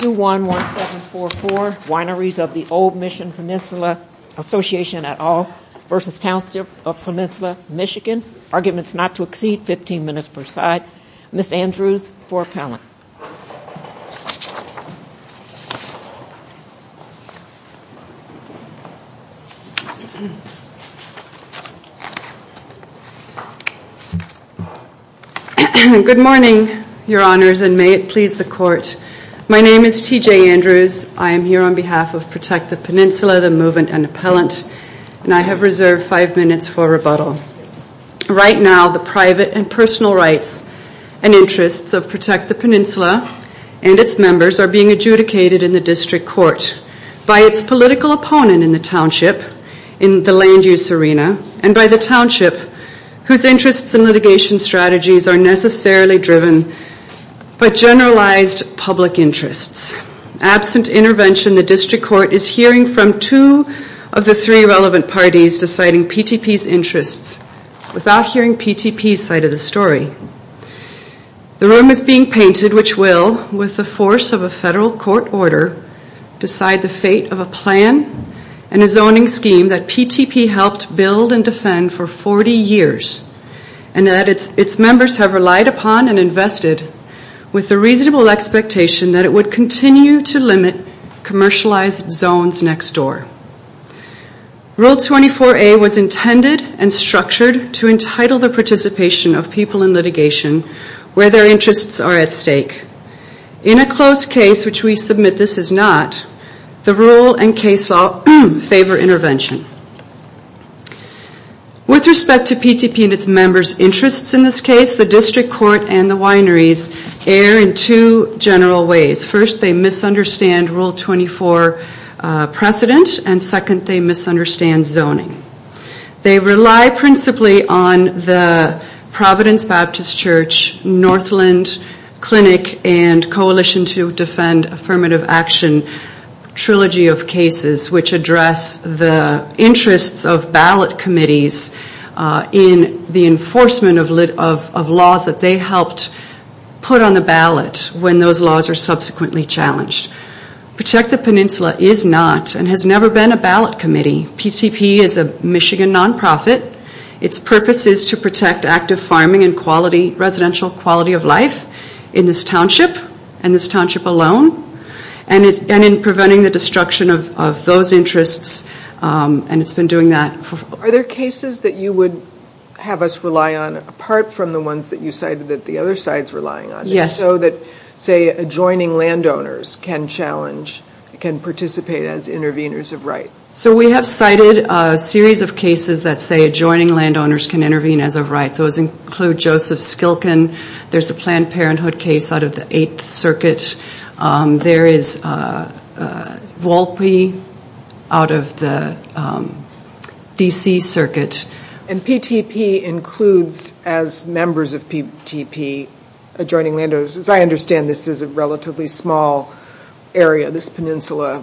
2-1-1-7-4-4 Wineries of the Old Mission Peninsula Association et al. v. Township of Peninsula Michigan. Arguments not to exceed 15 minutes per side. Ms. Andrews for appellant. Good morning, Your Honors, and may it please the Court. My name is T.J. Andrews. I am here on behalf of Protect the Peninsula, the movement, and Right now, the private and personal rights and interests of Protect the Peninsula and its members are being adjudicated in the District Court by its political opponent in the township, in the land use arena, and by the township, whose interests and litigation strategies are necessarily driven by hearing PTP's side of the story. The room is being painted, which will, with the force of a federal court order, decide the fate of a plan and a zoning scheme that PTP helped build and defend for 40 years, and that its members have relied upon and invested with the reasonable expectation that it would continue to limit commercialized zones next door. Rule 24A was intended and structured to entitle the participation of people in litigation where their interests are at stake. In a closed case, which we submit this is not, the rule and case law favor intervention. With respect to PTP and its members' interests in this case, the District Court and the wineries err in two general ways. First, they misunderstand Rule 24 precedent, and second, they misunderstand zoning. They rely principally on the Providence Baptist Church, Northland Clinic, and Coalition to Defend Affirmative Action trilogy of cases, which address the interests of ballot committees in the enforcement of laws that they helped put on the ballot when those laws are subsequently challenged. Protect the Peninsula is not, and has never been, a ballot committee. PTP is a Michigan nonprofit. Its purpose is to protect active farming and residential quality of Are there cases that you would have us rely on apart from the ones that you cited that the other side is relying on? Yes. So that, say, adjoining landowners can challenge, can participate as Walpy out of the D.C. circuit. And PTP includes, as members of PTP, adjoining landowners. As I understand, this is a relatively small area, this peninsula,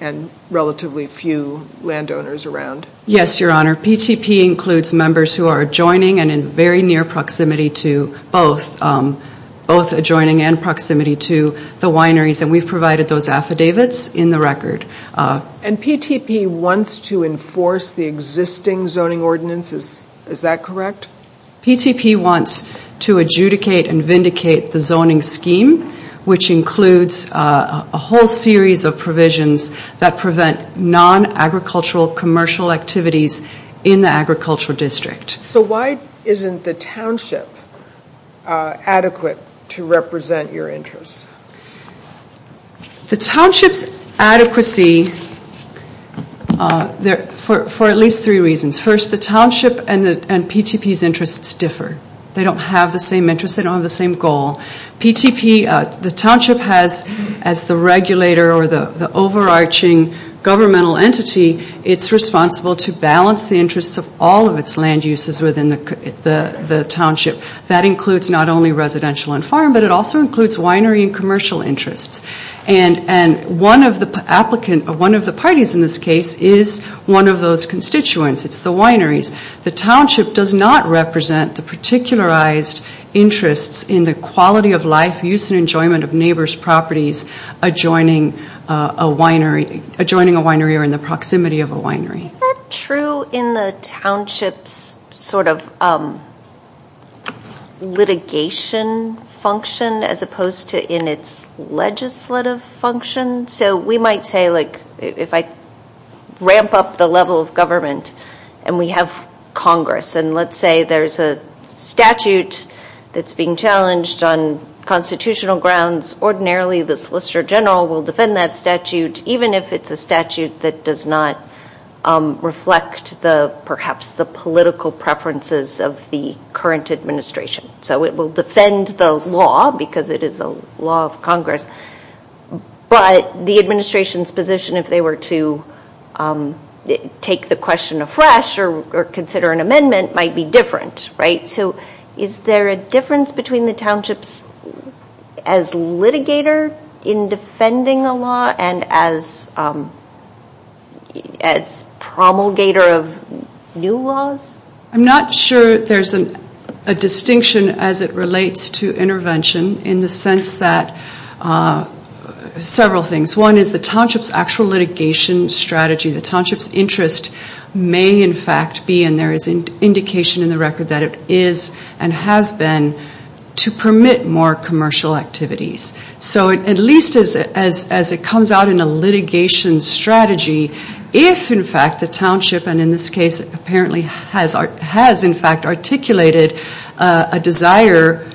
and relatively few landowners around. Yes, Your Honor. PTP includes members who are adjoining and in very near proximity to both, both adjoining and proximity to the wineries, and we've provided those affidavits in the record. And PTP wants to enforce the existing zoning ordinances, is that correct? PTP wants to adjudicate and vindicate the zoning scheme, which includes a whole series of provisions that prevent non-agricultural commercial activities in the agricultural district. So why isn't the township adequate to represent your interests? The township's adequacy, for at least three reasons. First, the township and PTP's interests differ. They don't have the same interests, they don't have the same goal. PTP, the township has, as the regulator or the overarching governmental entity, it's responsible to balance the interests of all of its land uses within the township. That includes not only residential and farm, but it also includes winery and commercial interests. And one of the parties in this case is one of those constituents, it's the wineries. The township does not represent the particularized interests in the quality of life, use and enjoyment of neighbors' properties adjoining a winery or in the proximity of a winery. Is that true in the township's sort of litigation function as opposed to in its legislative function? So we might say, like, if I ramp up the level of government and we have Congress and let's say there's a statute that's being challenged on constitutional grounds, ordinarily the Solicitor General will defend that statute, even if it's a statute that does not reflect perhaps the political preferences of the current administration. So it will defend the law because it is a law of Congress, but the administration's position if they were to take the question afresh or consider an amendment might be different, right? So is there a difference between the townships as litigator in defending a law and as promulgator of new laws? I'm not sure there's a distinction as it relates to intervention in the sense that several things. One is the township's actual litigation strategy. The township's interest may in fact be, and there is indication in the record that it is and has been, to permit more commercial activities. So at least as it comes out in a litigation strategy, if in fact the township, and in this case apparently has in fact articulated a desire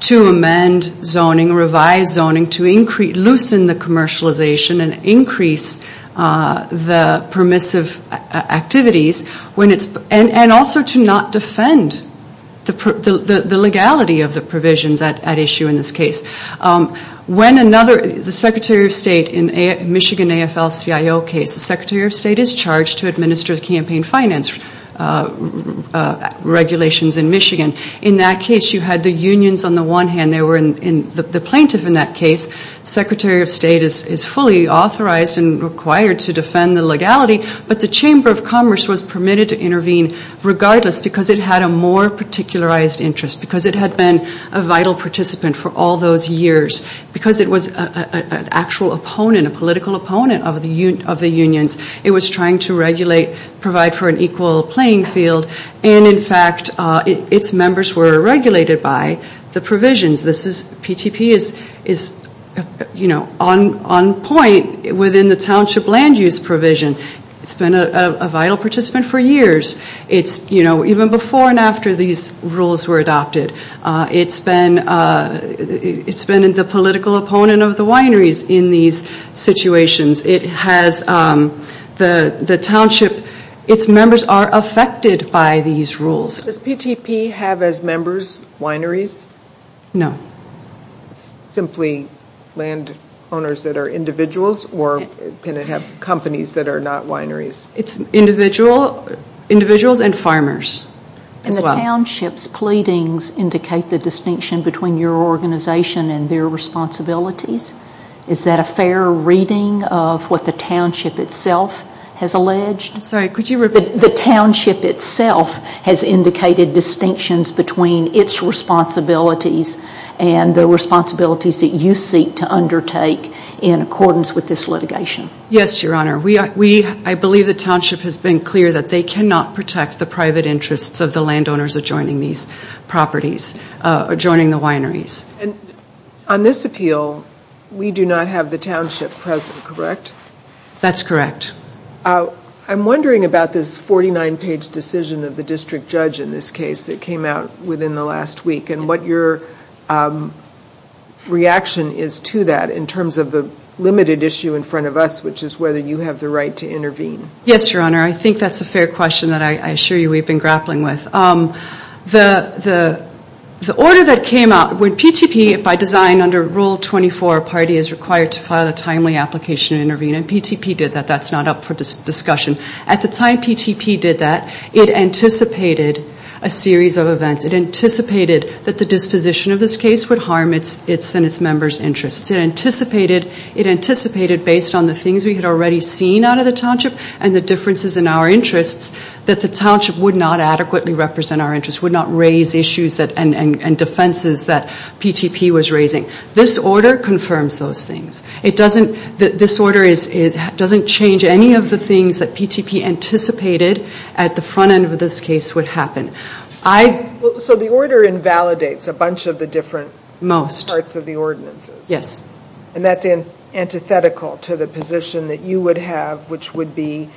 to amend zoning, revise zoning, to loosen the commercialization and increase the permissive activities, and also to not defend the legality of the provisions at issue in this case. When another, the Secretary of State in Michigan AFL-CIO case, the Secretary of State is charged to administer the campaign finance regulations in Michigan. In that case you had the unions on the one hand, they were in, the plaintiff in that case, Secretary of State is fully authorized and required to defend the legality, but the Chamber of Commerce was permitted to intervene regardless because it had a more particularized interest, because it had been a vital participant for all those years. Because it was an actual opponent, a political opponent of the unions, it was trying to regulate, provide for an equal playing field, and in fact its members were regulated by the provisions. This is, PTP is, you know, on point within the township land use provision. It's been a vital participant for years. It's, you know, even before and after these rules were adopted, it's been the political opponent of the wineries in these situations. It has the township, its members are affected by these rules. Does PTP have as members wineries? No. Simply land owners that are individuals or can it have companies that are not wineries? It's individuals and farmers as well. And the township's pleadings indicate the distinction between your organization and their responsibilities? Is that a fair reading of what the township itself has alleged? Sorry, could you repeat that? The township itself has indicated distinctions between its responsibilities and the responsibilities that you seek to undertake in accordance with this litigation? Yes, Your Honor. We, I believe the township has been clear that they cannot protect the private interests of the land owners adjoining these properties, adjoining the wineries. And on this appeal, we do not have the township present, correct? That's correct. I'm wondering about this 49-page decision of the district judge in this case that came out within the last week and what your reaction is to that in terms of the limited issue in front of us, which is whether you have the right to intervene? Yes, Your Honor. I think that's a fair question that I assure you we've been grappling with. The order that came out, when PTP, by design under Rule 24, a party is required to file a timely application and intervene, and PTP did that. That's not up for discussion. At the time PTP did that, it anticipated a series of events. It anticipated that the disposition of this case would harm its and its members' interests. It anticipated based on the things we had already seen out of the township and the differences in our interests that the township would not adequately represent our interests, would not raise issues and defenses that PTP was raising. This order confirms those things. It doesn't, this order doesn't change any of the things that PTP anticipated at the front end of this case would happen. So the order invalidates a bunch of the different parts of the ordinances? Yes. And that's antithetical to the position that you would have, which would be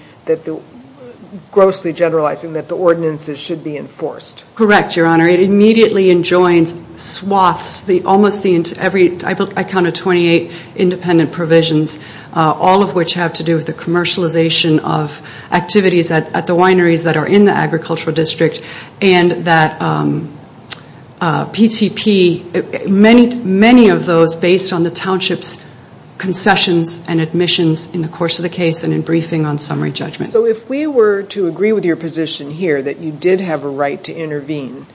grossly generalizing that the ordinances should be enforced? Correct, Your Honor. It immediately enjoins swaths, almost every, I counted 28 independent provisions, all of which have to do with the commercialization of activities at the wineries that are in the agricultural district, and that PTP, many of those based on the township's concessions and admissions in the course of the case and in briefing on summary judgment. So if we were to agree with your position here that you did have a right to intervene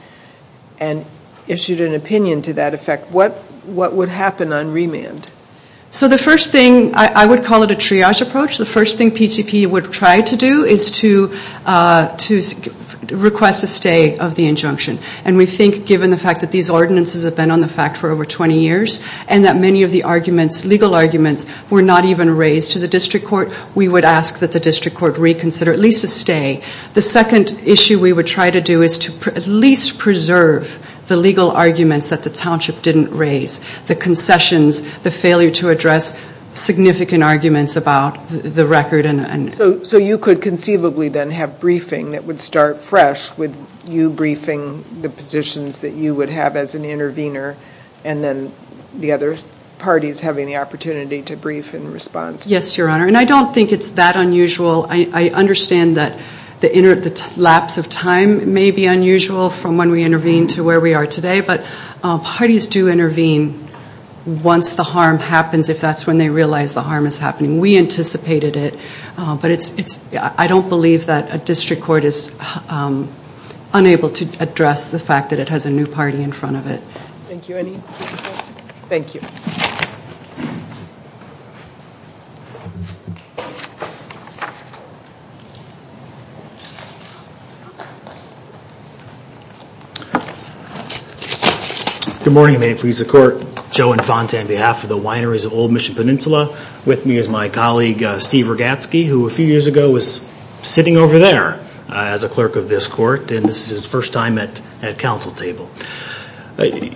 and issued an opinion to that effect, what would happen on remand? So the first thing, I would call it a triage approach. The first thing PTP would try to do is to request a stay of the injunction. And we think given the fact that these ordinances have been on the fact for over 20 years, and that many of the arguments, legal arguments, were not even raised to the district court, we would ask that the district court reconsider at least a stay. The second issue we would try to do is to at least preserve the legal arguments that the township didn't raise, the concessions, the failure to address significant arguments about the record. So you could conceivably then have briefing that would start fresh with you briefing the positions that you would have as an intervener, and then the other parties having the opportunity to brief in response? Yes, Your Honor. And I don't think it's that unusual. I understand that the lapse of time may be unusual from when we intervened to where we are today. But parties do intervene once the harm happens, if that's when they realize the harm is happening. We anticipated it. But I don't believe that a district court is unable to address the fact that it has a new party in front of it. Thank you. Any further questions? Thank you.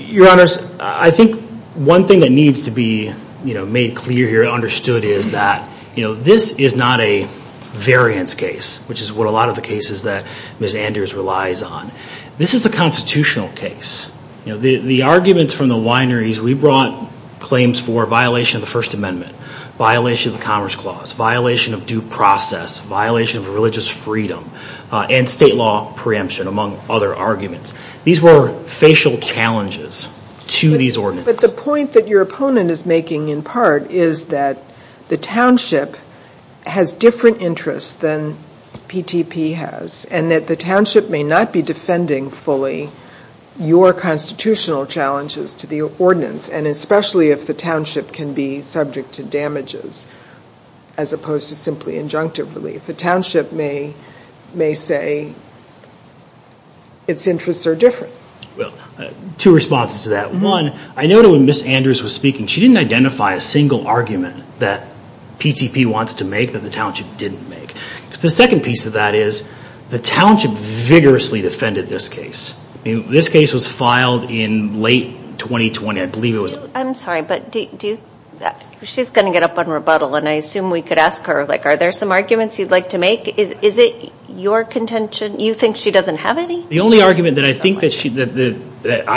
Your Honors, I think one thing that needs to be made clear here and understood is that this is not a variance case, which is what a lot of the cases that Ms. Andrews relies on. This is a constitutional case. The arguments from the wineries, we brought claims for violation of the First Amendment, violation of the Commerce Clause, violation of due process, violation of religious freedom, and state law preemption, among other arguments. These were facial challenges to these ordinances. But the point that your opponent is making in part is that the township has different interests than PTP has, and that the township may not be defending fully your constitutional challenges to the ordinance, and especially if the township can be subject to damages as opposed to simply injunctive relief. The township may say its interests are different. Two responses to that. One, I noted when Ms. Andrews was speaking, she didn't identify a single argument that PTP wants to make that the township didn't make. The second piece of that is the township vigorously defended this case. This case was filed in late 2020, I believe it was. I'm sorry, but she's going to get up on rebuttal, and I assume we could ask her, are there some arguments you'd like to make? Is it your contention, you think she doesn't have any? The only argument that I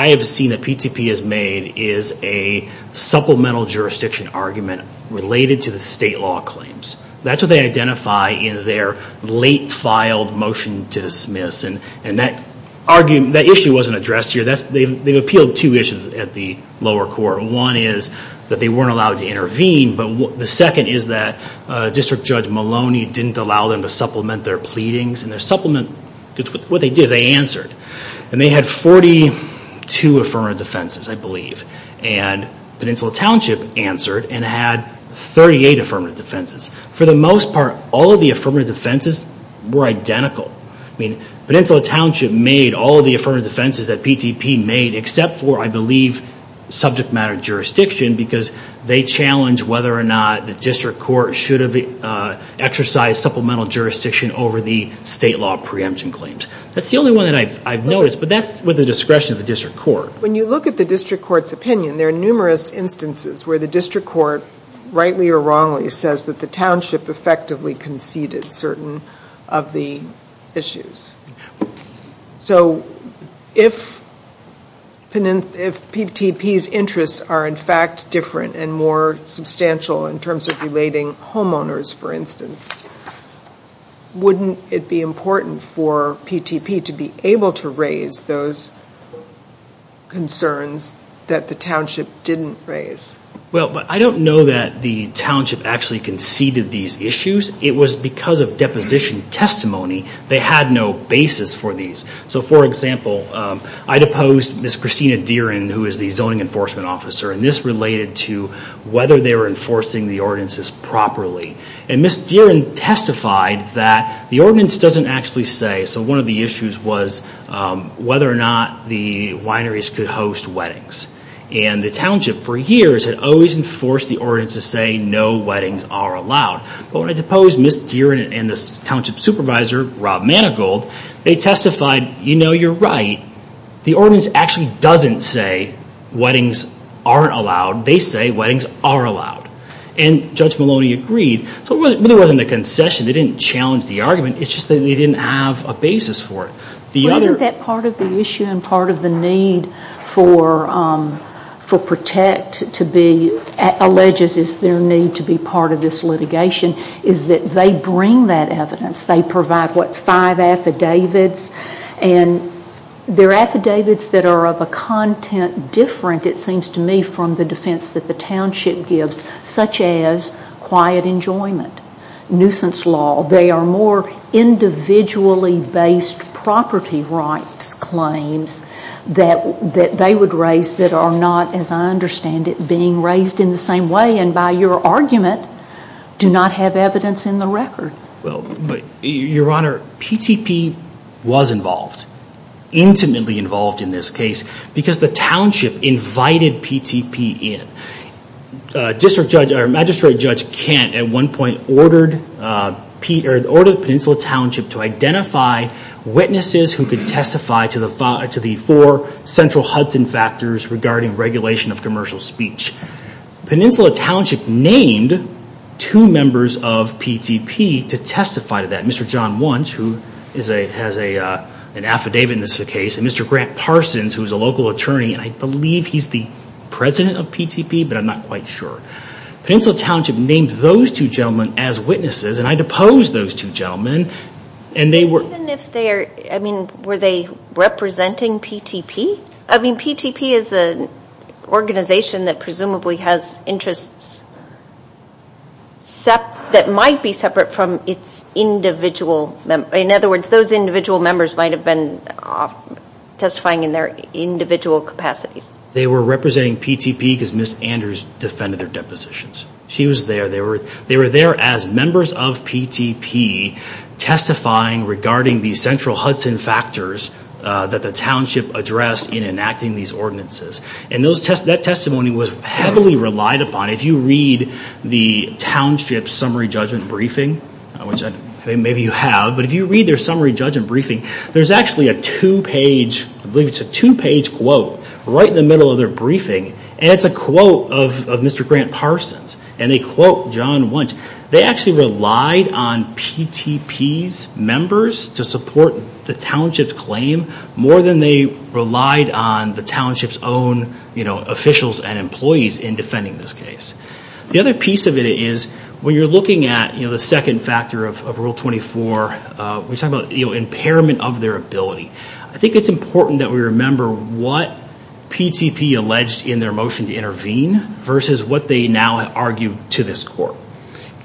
have seen that PTP has made is a supplemental jurisdiction argument related to the state law claims. That's what they identify in their late filed motion to dismiss, and that issue wasn't addressed here. They've appealed two issues at the lower court. One is that they weren't allowed to intervene, but the second is that District Judge Maloney didn't allow them to supplement their pleadings. What they did is they answered, and they had 42 affirmative defenses, I believe. Peninsula Township answered and had 38 affirmative defenses. For the most part, all of the affirmative defenses were identical. Peninsula Township made all of the affirmative defenses that PTP made, except for, I believe, subject matter jurisdiction, because they challenged whether or not the district court should have exercised supplemental jurisdiction over the state law preemption claims. That's the only one that I've noticed, but that's with the discretion of the district court. When you look at the district court's opinion, there are numerous instances where the district court, rightly or wrongly, says that the township effectively conceded certain of the issues. If PTP's interests are, in fact, different and more substantial in terms of relating homeowners, for instance, wouldn't it be important for PTP to be able to raise those concerns that the township didn't raise? I don't know that the township actually conceded these issues. It was because of deposition testimony. They had no basis for these. For example, I'd opposed Ms. Christina Dierin, who is the zoning enforcement officer, and this related to whether they were enforcing the ordinances properly. Ms. Dierin testified that the ordinance doesn't actually say. One of the issues was whether or not the wineries could host weddings. The township, for years, had always enforced the ordinance to say no weddings are allowed. When I deposed Ms. Dierin and the township supervisor, Rob Manigold, they testified, you know, you're right. The ordinance actually doesn't say weddings aren't allowed. They say weddings are allowed. Judge Maloney agreed. It really wasn't a concession. They didn't challenge the argument. It's just that they didn't have a basis for it. Isn't that part of the issue and part of the need for Protect to be alleged as their need to be part of this litigation is that they bring that evidence? They provide, what, five affidavits? And they're affidavits that are of a content different, it seems to me, from the defense that the township gives, such as quiet enjoyment, nuisance law. They are more individually based property rights claims that they would raise that are not, as I understand it, being raised in the same way and, by your argument, do not have evidence in the record. Your Honor, PTP was involved, intimately involved in this case, because the township invited PTP in. District Judge or Magistrate Judge Kent, at one point, ordered Peninsula Township to identify witnesses who could testify to the four central Hudson factors regarding regulation of commercial speech. Peninsula Township named two members of PTP to testify to that. Mr. John Wunsch, who has an affidavit in this case, and Mr. Grant Parsons, who's a local attorney, and I believe he's the president of PTP, but I'm not quite sure. Peninsula Township named those two gentlemen as witnesses, and I deposed those two gentlemen. Even if they are, I mean, were they representing PTP? I mean, PTP is an organization that presumably has interests that might be separate from its individual members. In other words, those individual members might have been testifying in their individual capacities. They were representing PTP because Ms. Andrews defended their depositions. She was there. They were there as members of PTP testifying regarding these central Hudson factors that the township addressed in enacting these ordinances. And that testimony was heavily relied upon. If you read the township summary judgment briefing, which maybe you have, but if you read their summary judgment briefing, there's actually a two-page, I believe it's a two-page quote. Right in the middle of their briefing, and it's a quote of Mr. Grant Parsons, and they quote John Wunsch. They actually relied on PTP's members to support the township's claim more than they relied on the township's own officials and employees in defending this case. The other piece of it is when you're looking at the second factor of Rule 24, we're talking about impairment of their ability. I think it's important that we remember what PTP alleged in their motion to intervene versus what they now argue to this court.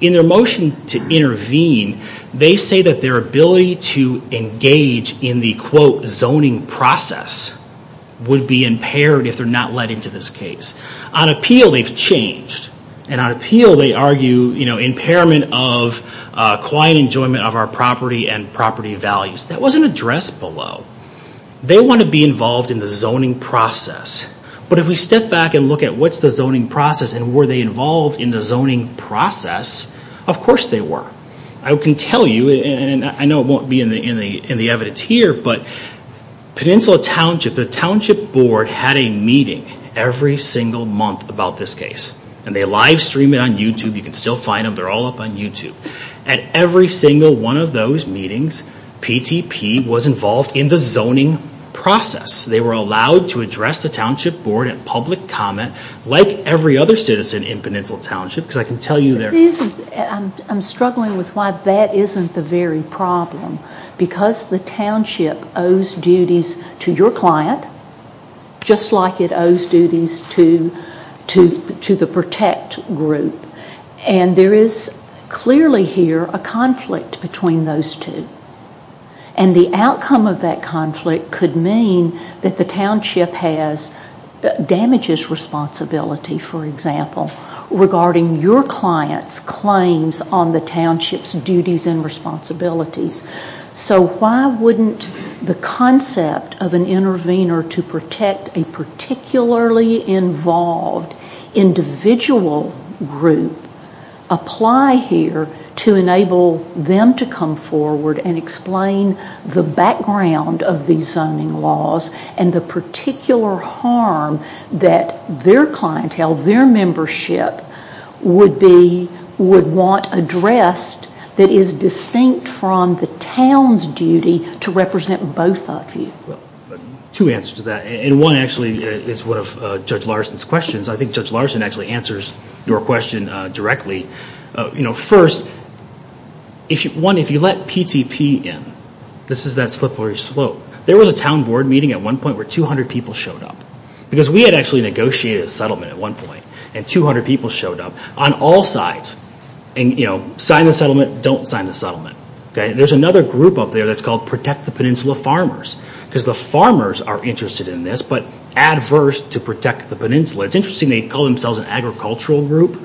In their motion to intervene, they say that their ability to engage in the quote zoning process would be impaired if they're not led into this case. On appeal, they've changed. And on appeal, they argue impairment of quiet enjoyment of our property and property values. That was an address below. They want to be involved in the zoning process. But if we step back and look at what's the zoning process and were they involved in the zoning process, of course they were. I can tell you, and I know it won't be in the evidence here, but Peninsula Township, the township board had a meeting every single month about this case. And they live stream it on YouTube. You can still find them. They're all up on YouTube. At every single one of those meetings, PTP was involved in the zoning process. They were allowed to address the township board in public comment, like every other citizen in Peninsula Township, because I can tell you they're... I'm struggling with why that isn't the very problem. Because the township owes duties to your client, just like it owes duties to the protect group. And there is clearly here a conflict between those two. And the outcome of that conflict could mean that the township has damages responsibility, for example, regarding your client's claims on the township's duties and responsibilities. So why wouldn't the concept of an intervener to protect a particularly involved individual group apply here to enable them to come forward and explain the background of these zoning laws and the particular harm that their clientele, their membership, would want addressed that is distinct from the town's duty to represent both of you? Well, two answers to that. And one actually is one of Judge Larson's questions. I think Judge Larson actually answers your question directly. First, one, if you let PTP in, this is that slippery slope, there was a town board meeting at one point where 200 people showed up. Because we had actually negotiated a settlement at one point. And 200 people showed up on all sides. Sign the settlement. Don't sign the settlement. There's another group up there that's called Protect the Peninsula Farmers. Because the farmers are interested in this, but adverse to Protect the Peninsula. It's interesting they call themselves an agricultural group.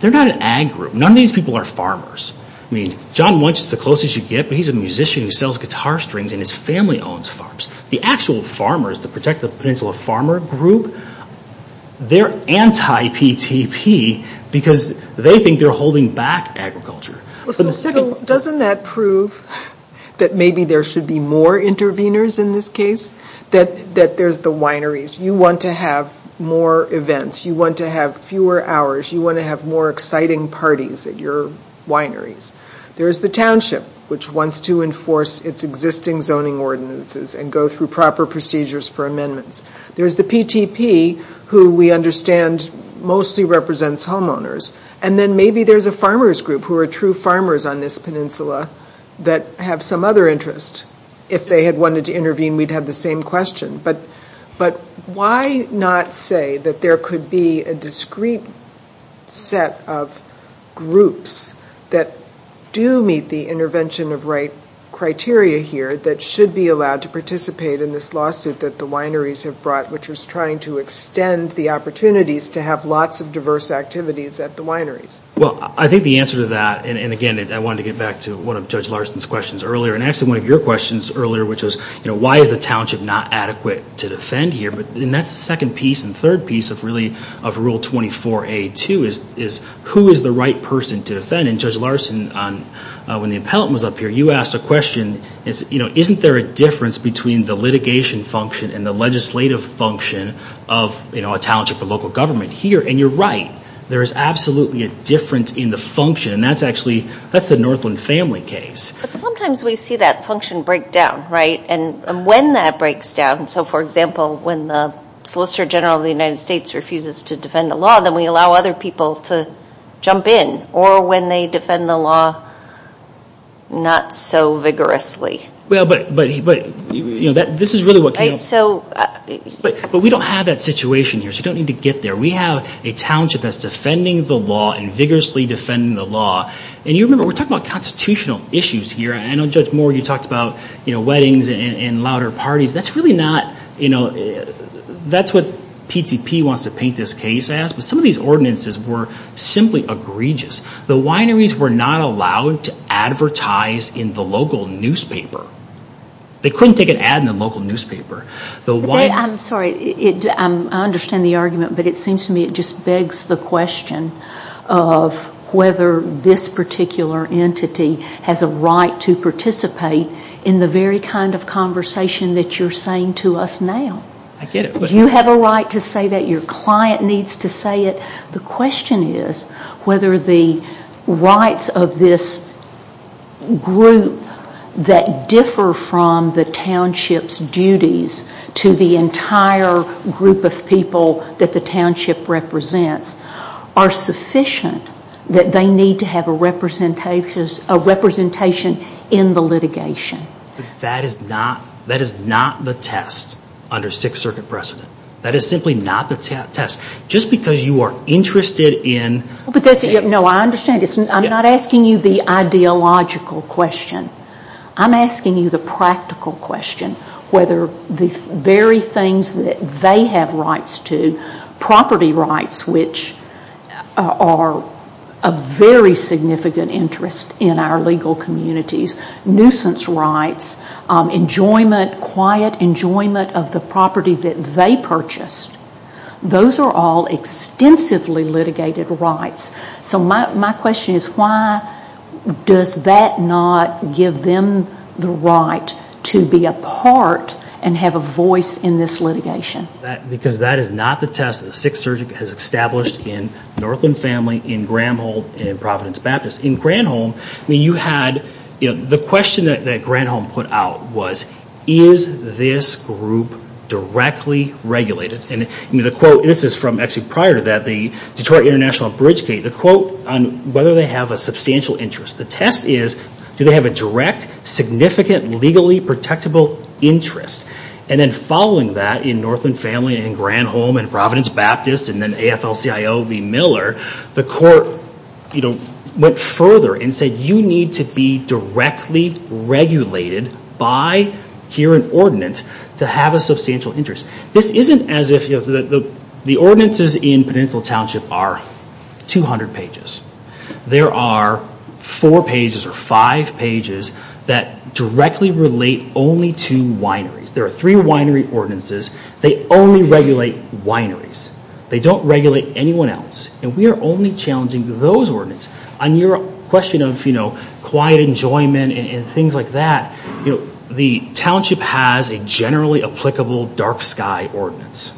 They're not an ag group. None of these people are farmers. I mean, John Muench is the closest you get, but he's a musician who sells guitar strings and his family owns farms. The actual farmers, the Protect the Peninsula Farmer group, they're anti-PTP because they think they're holding back agriculture. So doesn't that prove that maybe there should be more interveners in this case? That there's the wineries. You want to have more events. You want to have fewer hours. You want to have more exciting parties at your wineries. There's the township, which wants to enforce its existing zoning ordinances and go through proper procedures for amendments. There's the PTP, who we understand mostly represents homeowners. And then maybe there's a farmers group who are true farmers on this peninsula that have some other interest. If they had wanted to intervene, we'd have the same question. But why not say that there could be a discrete set of groups that do meet the intervention of right criteria here that should be allowed to participate in this lawsuit that the wineries have brought, which is trying to extend the opportunities to have lots of diverse activities at the wineries? Well, I think the answer to that, and again, I wanted to get back to one of Judge Larson's questions earlier, and actually one of your questions earlier, which was why is the township not adequate to defend here? And that's the second piece and third piece of Rule 24a.2 is who is the right person to defend? And Judge Larson, when the appellant was up here, you asked a question. Isn't there a difference between the litigation function and the legislative function of a township or local government here? And you're right. There is absolutely a difference in the function, and that's the Northland family case. But sometimes we see that function break down, right? And when that breaks down, so, for example, when the Solicitor General of the United States refuses to defend a law, then we allow other people to jump in, or when they defend the law not so vigorously. Well, but this is really what came up. But we don't have that situation here, so you don't need to get there. We have a township that's defending the law and vigorously defending the law. And you remember, we're talking about constitutional issues here. I know, Judge Moore, you talked about, you know, weddings and louder parties. That's really not, you know, that's what PCP wants to paint this case as. But some of these ordinances were simply egregious. The wineries were not allowed to advertise in the local newspaper. They couldn't take an ad in the local newspaper. I'm sorry. I understand the argument, but it seems to me it just begs the question of whether this particular entity has a right to participate in the very kind of conversation that you're saying to us now. I get it. You have a right to say that. Your client needs to say it. The question is whether the rights of this group that differ from the township's duties to the entire group of people that the township represents are sufficient that they need to have a representation in the litigation. That is not the test under Sixth Circuit precedent. That is simply not the test. Just because you are interested in this. No, I understand. I'm not asking you the ideological question. I'm asking you the practical question, whether the very things that they have rights to, property rights, which are of very significant interest in our legal communities, nuisance rights, quiet enjoyment of the property that they purchased, those are all extensively litigated rights. So my question is why does that not give them the right to be a part and have a voice in this litigation? Because that is not the test that the Sixth Circuit has established in Northland Family, in Granholm, and in Providence Baptist. In Granholm, the question that Granholm put out was, is this group directly regulated? This is from actually prior to that, the Detroit International Bridge case. The quote on whether they have a substantial interest. The test is, do they have a direct, significant, legally protectable interest? And then following that, in Northland Family, in Granholm, in Providence Baptist, and then AFLCIO v. Miller, the court went further and said, you need to be directly regulated by here an ordinance to have a substantial interest. This isn't as if the ordinances in Peninsular Township are 200 pages. There are four pages or five pages that directly relate only to wineries. There are three winery ordinances. They only regulate wineries. They don't regulate anyone else. And we are only challenging those ordinances. On your question of quiet enjoyment and things like that, the township has a generally applicable dark sky ordinance.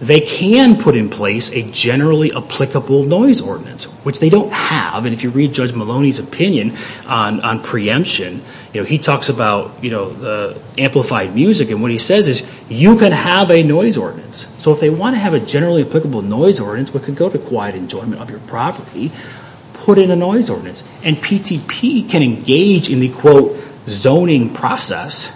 They can put in place a generally applicable noise ordinance, which they don't have. And if you read Judge Maloney's opinion on preemption, he talks about amplified music. And what he says is, you can have a noise ordinance. So if they want to have a generally applicable noise ordinance that can go to quiet enjoyment of your property, put in a noise ordinance. And PTP can engage in the, quote, zoning process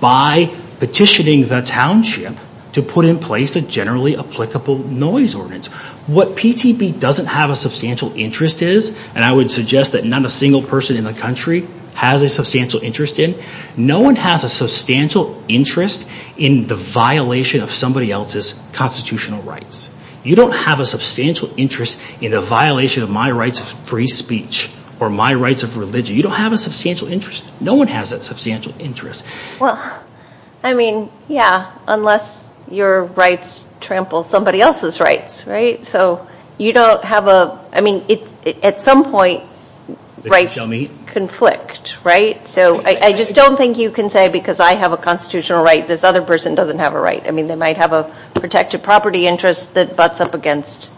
by petitioning the township to put in place a generally applicable noise ordinance. What PTP doesn't have a substantial interest is, and I would suggest that not a single person in the country has a substantial interest in, no one has a substantial interest in the violation of somebody else's constitutional rights. You don't have a substantial interest in the violation of my rights of free speech or my rights of religion. You don't have a substantial interest. No one has that substantial interest. Well, I mean, yeah, unless your rights trample somebody else's rights, right? So you don't have a, I mean, at some point, rights conflict, right? So I just don't think you can say because I have a constitutional right, this other person doesn't have a right. I mean, they might have a protected property interest that butts up against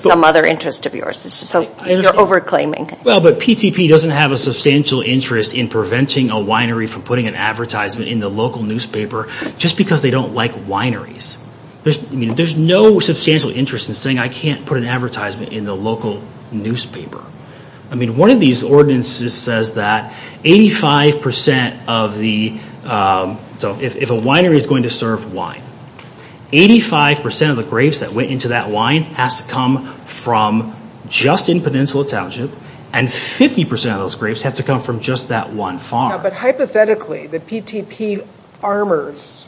some other interest of yours. So you're over claiming. Well, but PTP doesn't have a substantial interest in preventing a winery from putting an advertisement in the local newspaper just because they don't like wineries. There's no substantial interest in saying I can't put an advertisement in the local newspaper. I mean, one of these ordinances says that 85% of the, so if a winery is going to serve wine, 85% of the grapes that went into that wine has to come from just in Peninsula Township, and 50% of those grapes have to come from just that one farm. But hypothetically, the PTP farmers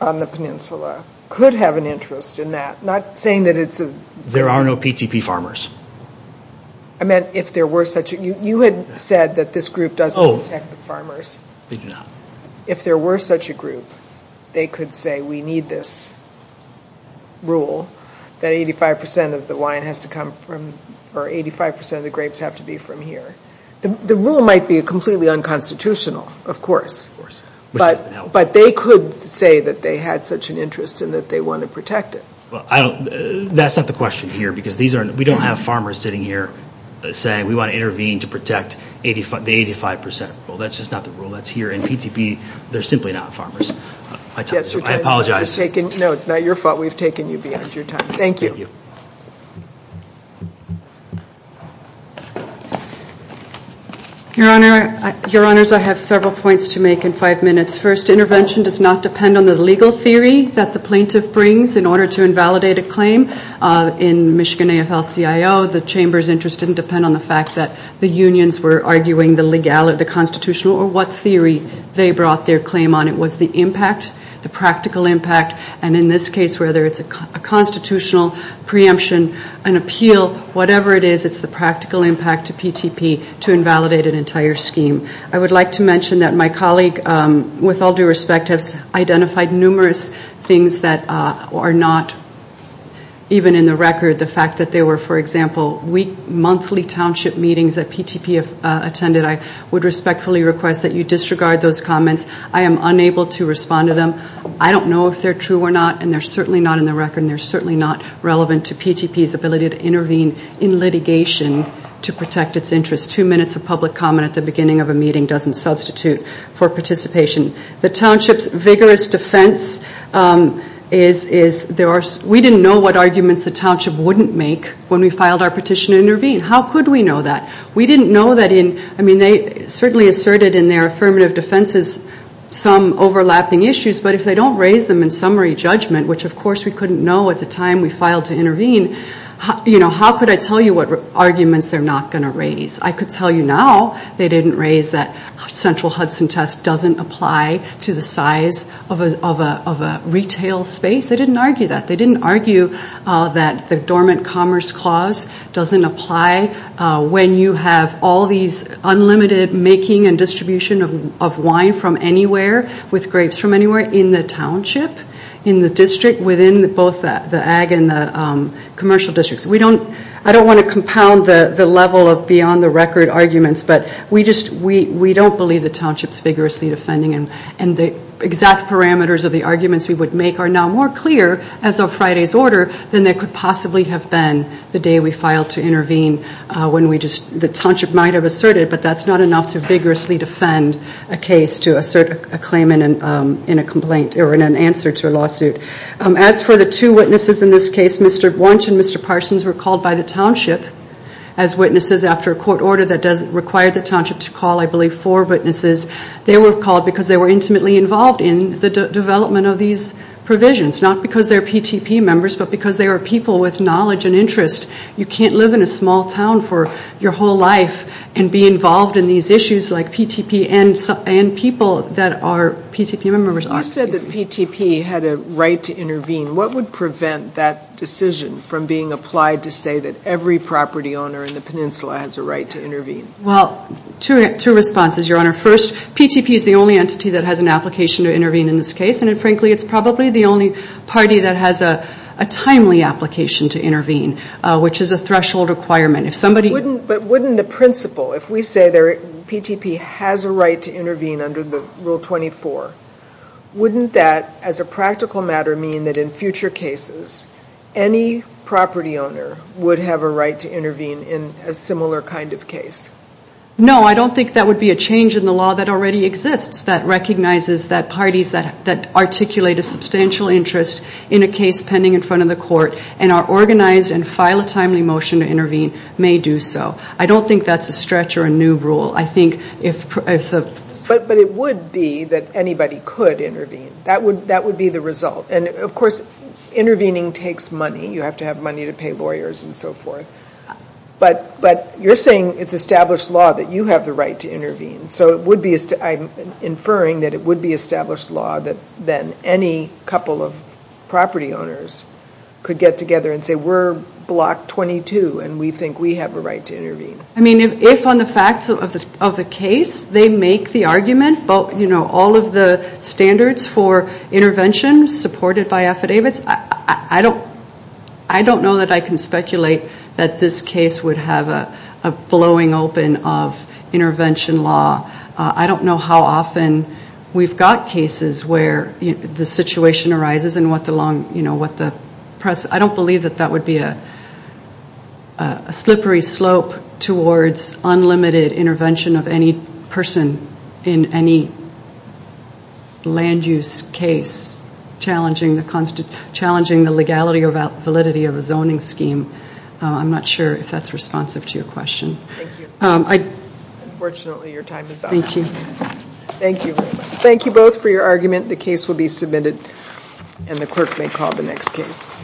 on the Peninsula could have an interest in that, not saying that it's a... There are no PTP farmers. I meant if there were such, you had said that this group doesn't protect the farmers. They do not. If there were such a group, they could say we need this rule that 85% of the wine has to come from, or 85% of the grapes have to be from here. The rule might be completely unconstitutional, of course. Of course. But they could say that they had such an interest and that they want to protect it. That's not the question here because we don't have farmers sitting here saying we want to intervene to protect the 85% rule. That's just not the rule. That's here in PTP. They're simply not farmers. I apologize. No, it's not your fault. We've taken you beyond your time. Thank you. Your Honor, I have several points to make in five minutes. This first intervention does not depend on the legal theory that the plaintiff brings in order to invalidate a claim. In Michigan AFL-CIO, the Chamber's interest didn't depend on the fact that the unions were arguing the legality, the constitutional, or what theory they brought their claim on. It was the impact, the practical impact, and in this case, whether it's a constitutional preemption, an appeal, whatever it is, it's the practical impact to PTP to invalidate an entire scheme. I would like to mention that my colleague, with all due respect, has identified numerous things that are not even in the record. The fact that there were, for example, weekly, monthly township meetings that PTP attended, I would respectfully request that you disregard those comments. I am unable to respond to them. I don't know if they're true or not, and they're certainly not in the record, and they're certainly not relevant to PTP's ability to intervene in litigation to protect its interests. Two minutes of public comment at the beginning of a meeting doesn't substitute for participation. The township's vigorous defense is we didn't know what arguments the township wouldn't make when we filed our petition to intervene. How could we know that? We didn't know that in, I mean, they certainly asserted in their affirmative defenses some overlapping issues, but if they don't raise them in summary judgment, which, of course, we couldn't know at the time we filed to intervene, how could I tell you what arguments they're not going to raise? I could tell you now they didn't raise that central Hudson test doesn't apply to the size of a retail space. They didn't argue that. They didn't argue that the dormant commerce clause doesn't apply when you have all these unlimited making and distribution of wine from anywhere with grapes from anywhere in the township, in the district, within both the ag and the commercial districts. We don't, I don't want to compound the level of beyond the record arguments, but we just, we don't believe the township's vigorously defending and the exact parameters of the arguments we would make are now more clear as of Friday's order than they could possibly have been the day we filed to intervene when we just, the township might have asserted, but that's not enough to vigorously defend a case to assert a claim in a complaint or in an answer to a lawsuit. As for the two witnesses in this case, Mr. Bunch and Mr. Parsons were called by the township as witnesses after a court order that required the township to call, I believe, four witnesses. They were called because they were intimately involved in the development of these provisions, not because they're PTP members, but because they are people with knowledge and interest. You can't live in a small town for your whole life and be involved in these issues like PTP and people that are PTP members. You said that PTP had a right to intervene. What would prevent that decision from being applied to say that every property owner in the peninsula has a right to intervene? Well, two responses, Your Honor. First, PTP is the only entity that has an application to intervene in this case, and frankly it's probably the only party that has a timely application to intervene, which is a threshold requirement. But wouldn't the principle, if we say PTP has a right to intervene under Rule 24, wouldn't that, as a practical matter, mean that in future cases, any property owner would have a right to intervene in a similar kind of case? No, I don't think that would be a change in the law that already exists that recognizes that parties that articulate a substantial interest in a case pending in front of the court and are organized and file a timely motion to intervene may do so. I don't think that's a stretch or a new rule. But it would be that anybody could intervene. That would be the result. And, of course, intervening takes money. You have to have money to pay lawyers and so forth. But you're saying it's established law that you have the right to intervene. I'm inferring that it would be established law that any couple of property owners could get together and say we're Block 22 and we think we have a right to intervene. I mean, if on the facts of the case they make the argument, all of the standards for intervention supported by affidavits, I don't know that I can speculate that this case would have a blowing open of intervention law. I don't know how often we've got cases where the situation arises and what the long, you know, what the, I don't believe that that would be a slippery slope towards unlimited intervention of any person in any land use case challenging the legality or validity of a zoning scheme. I'm not sure if that's responsive to your question. Thank you. Unfortunately, your time is up. Thank you. Thank you. Thank you both for your argument. The case will be submitted and the clerk may call the next case.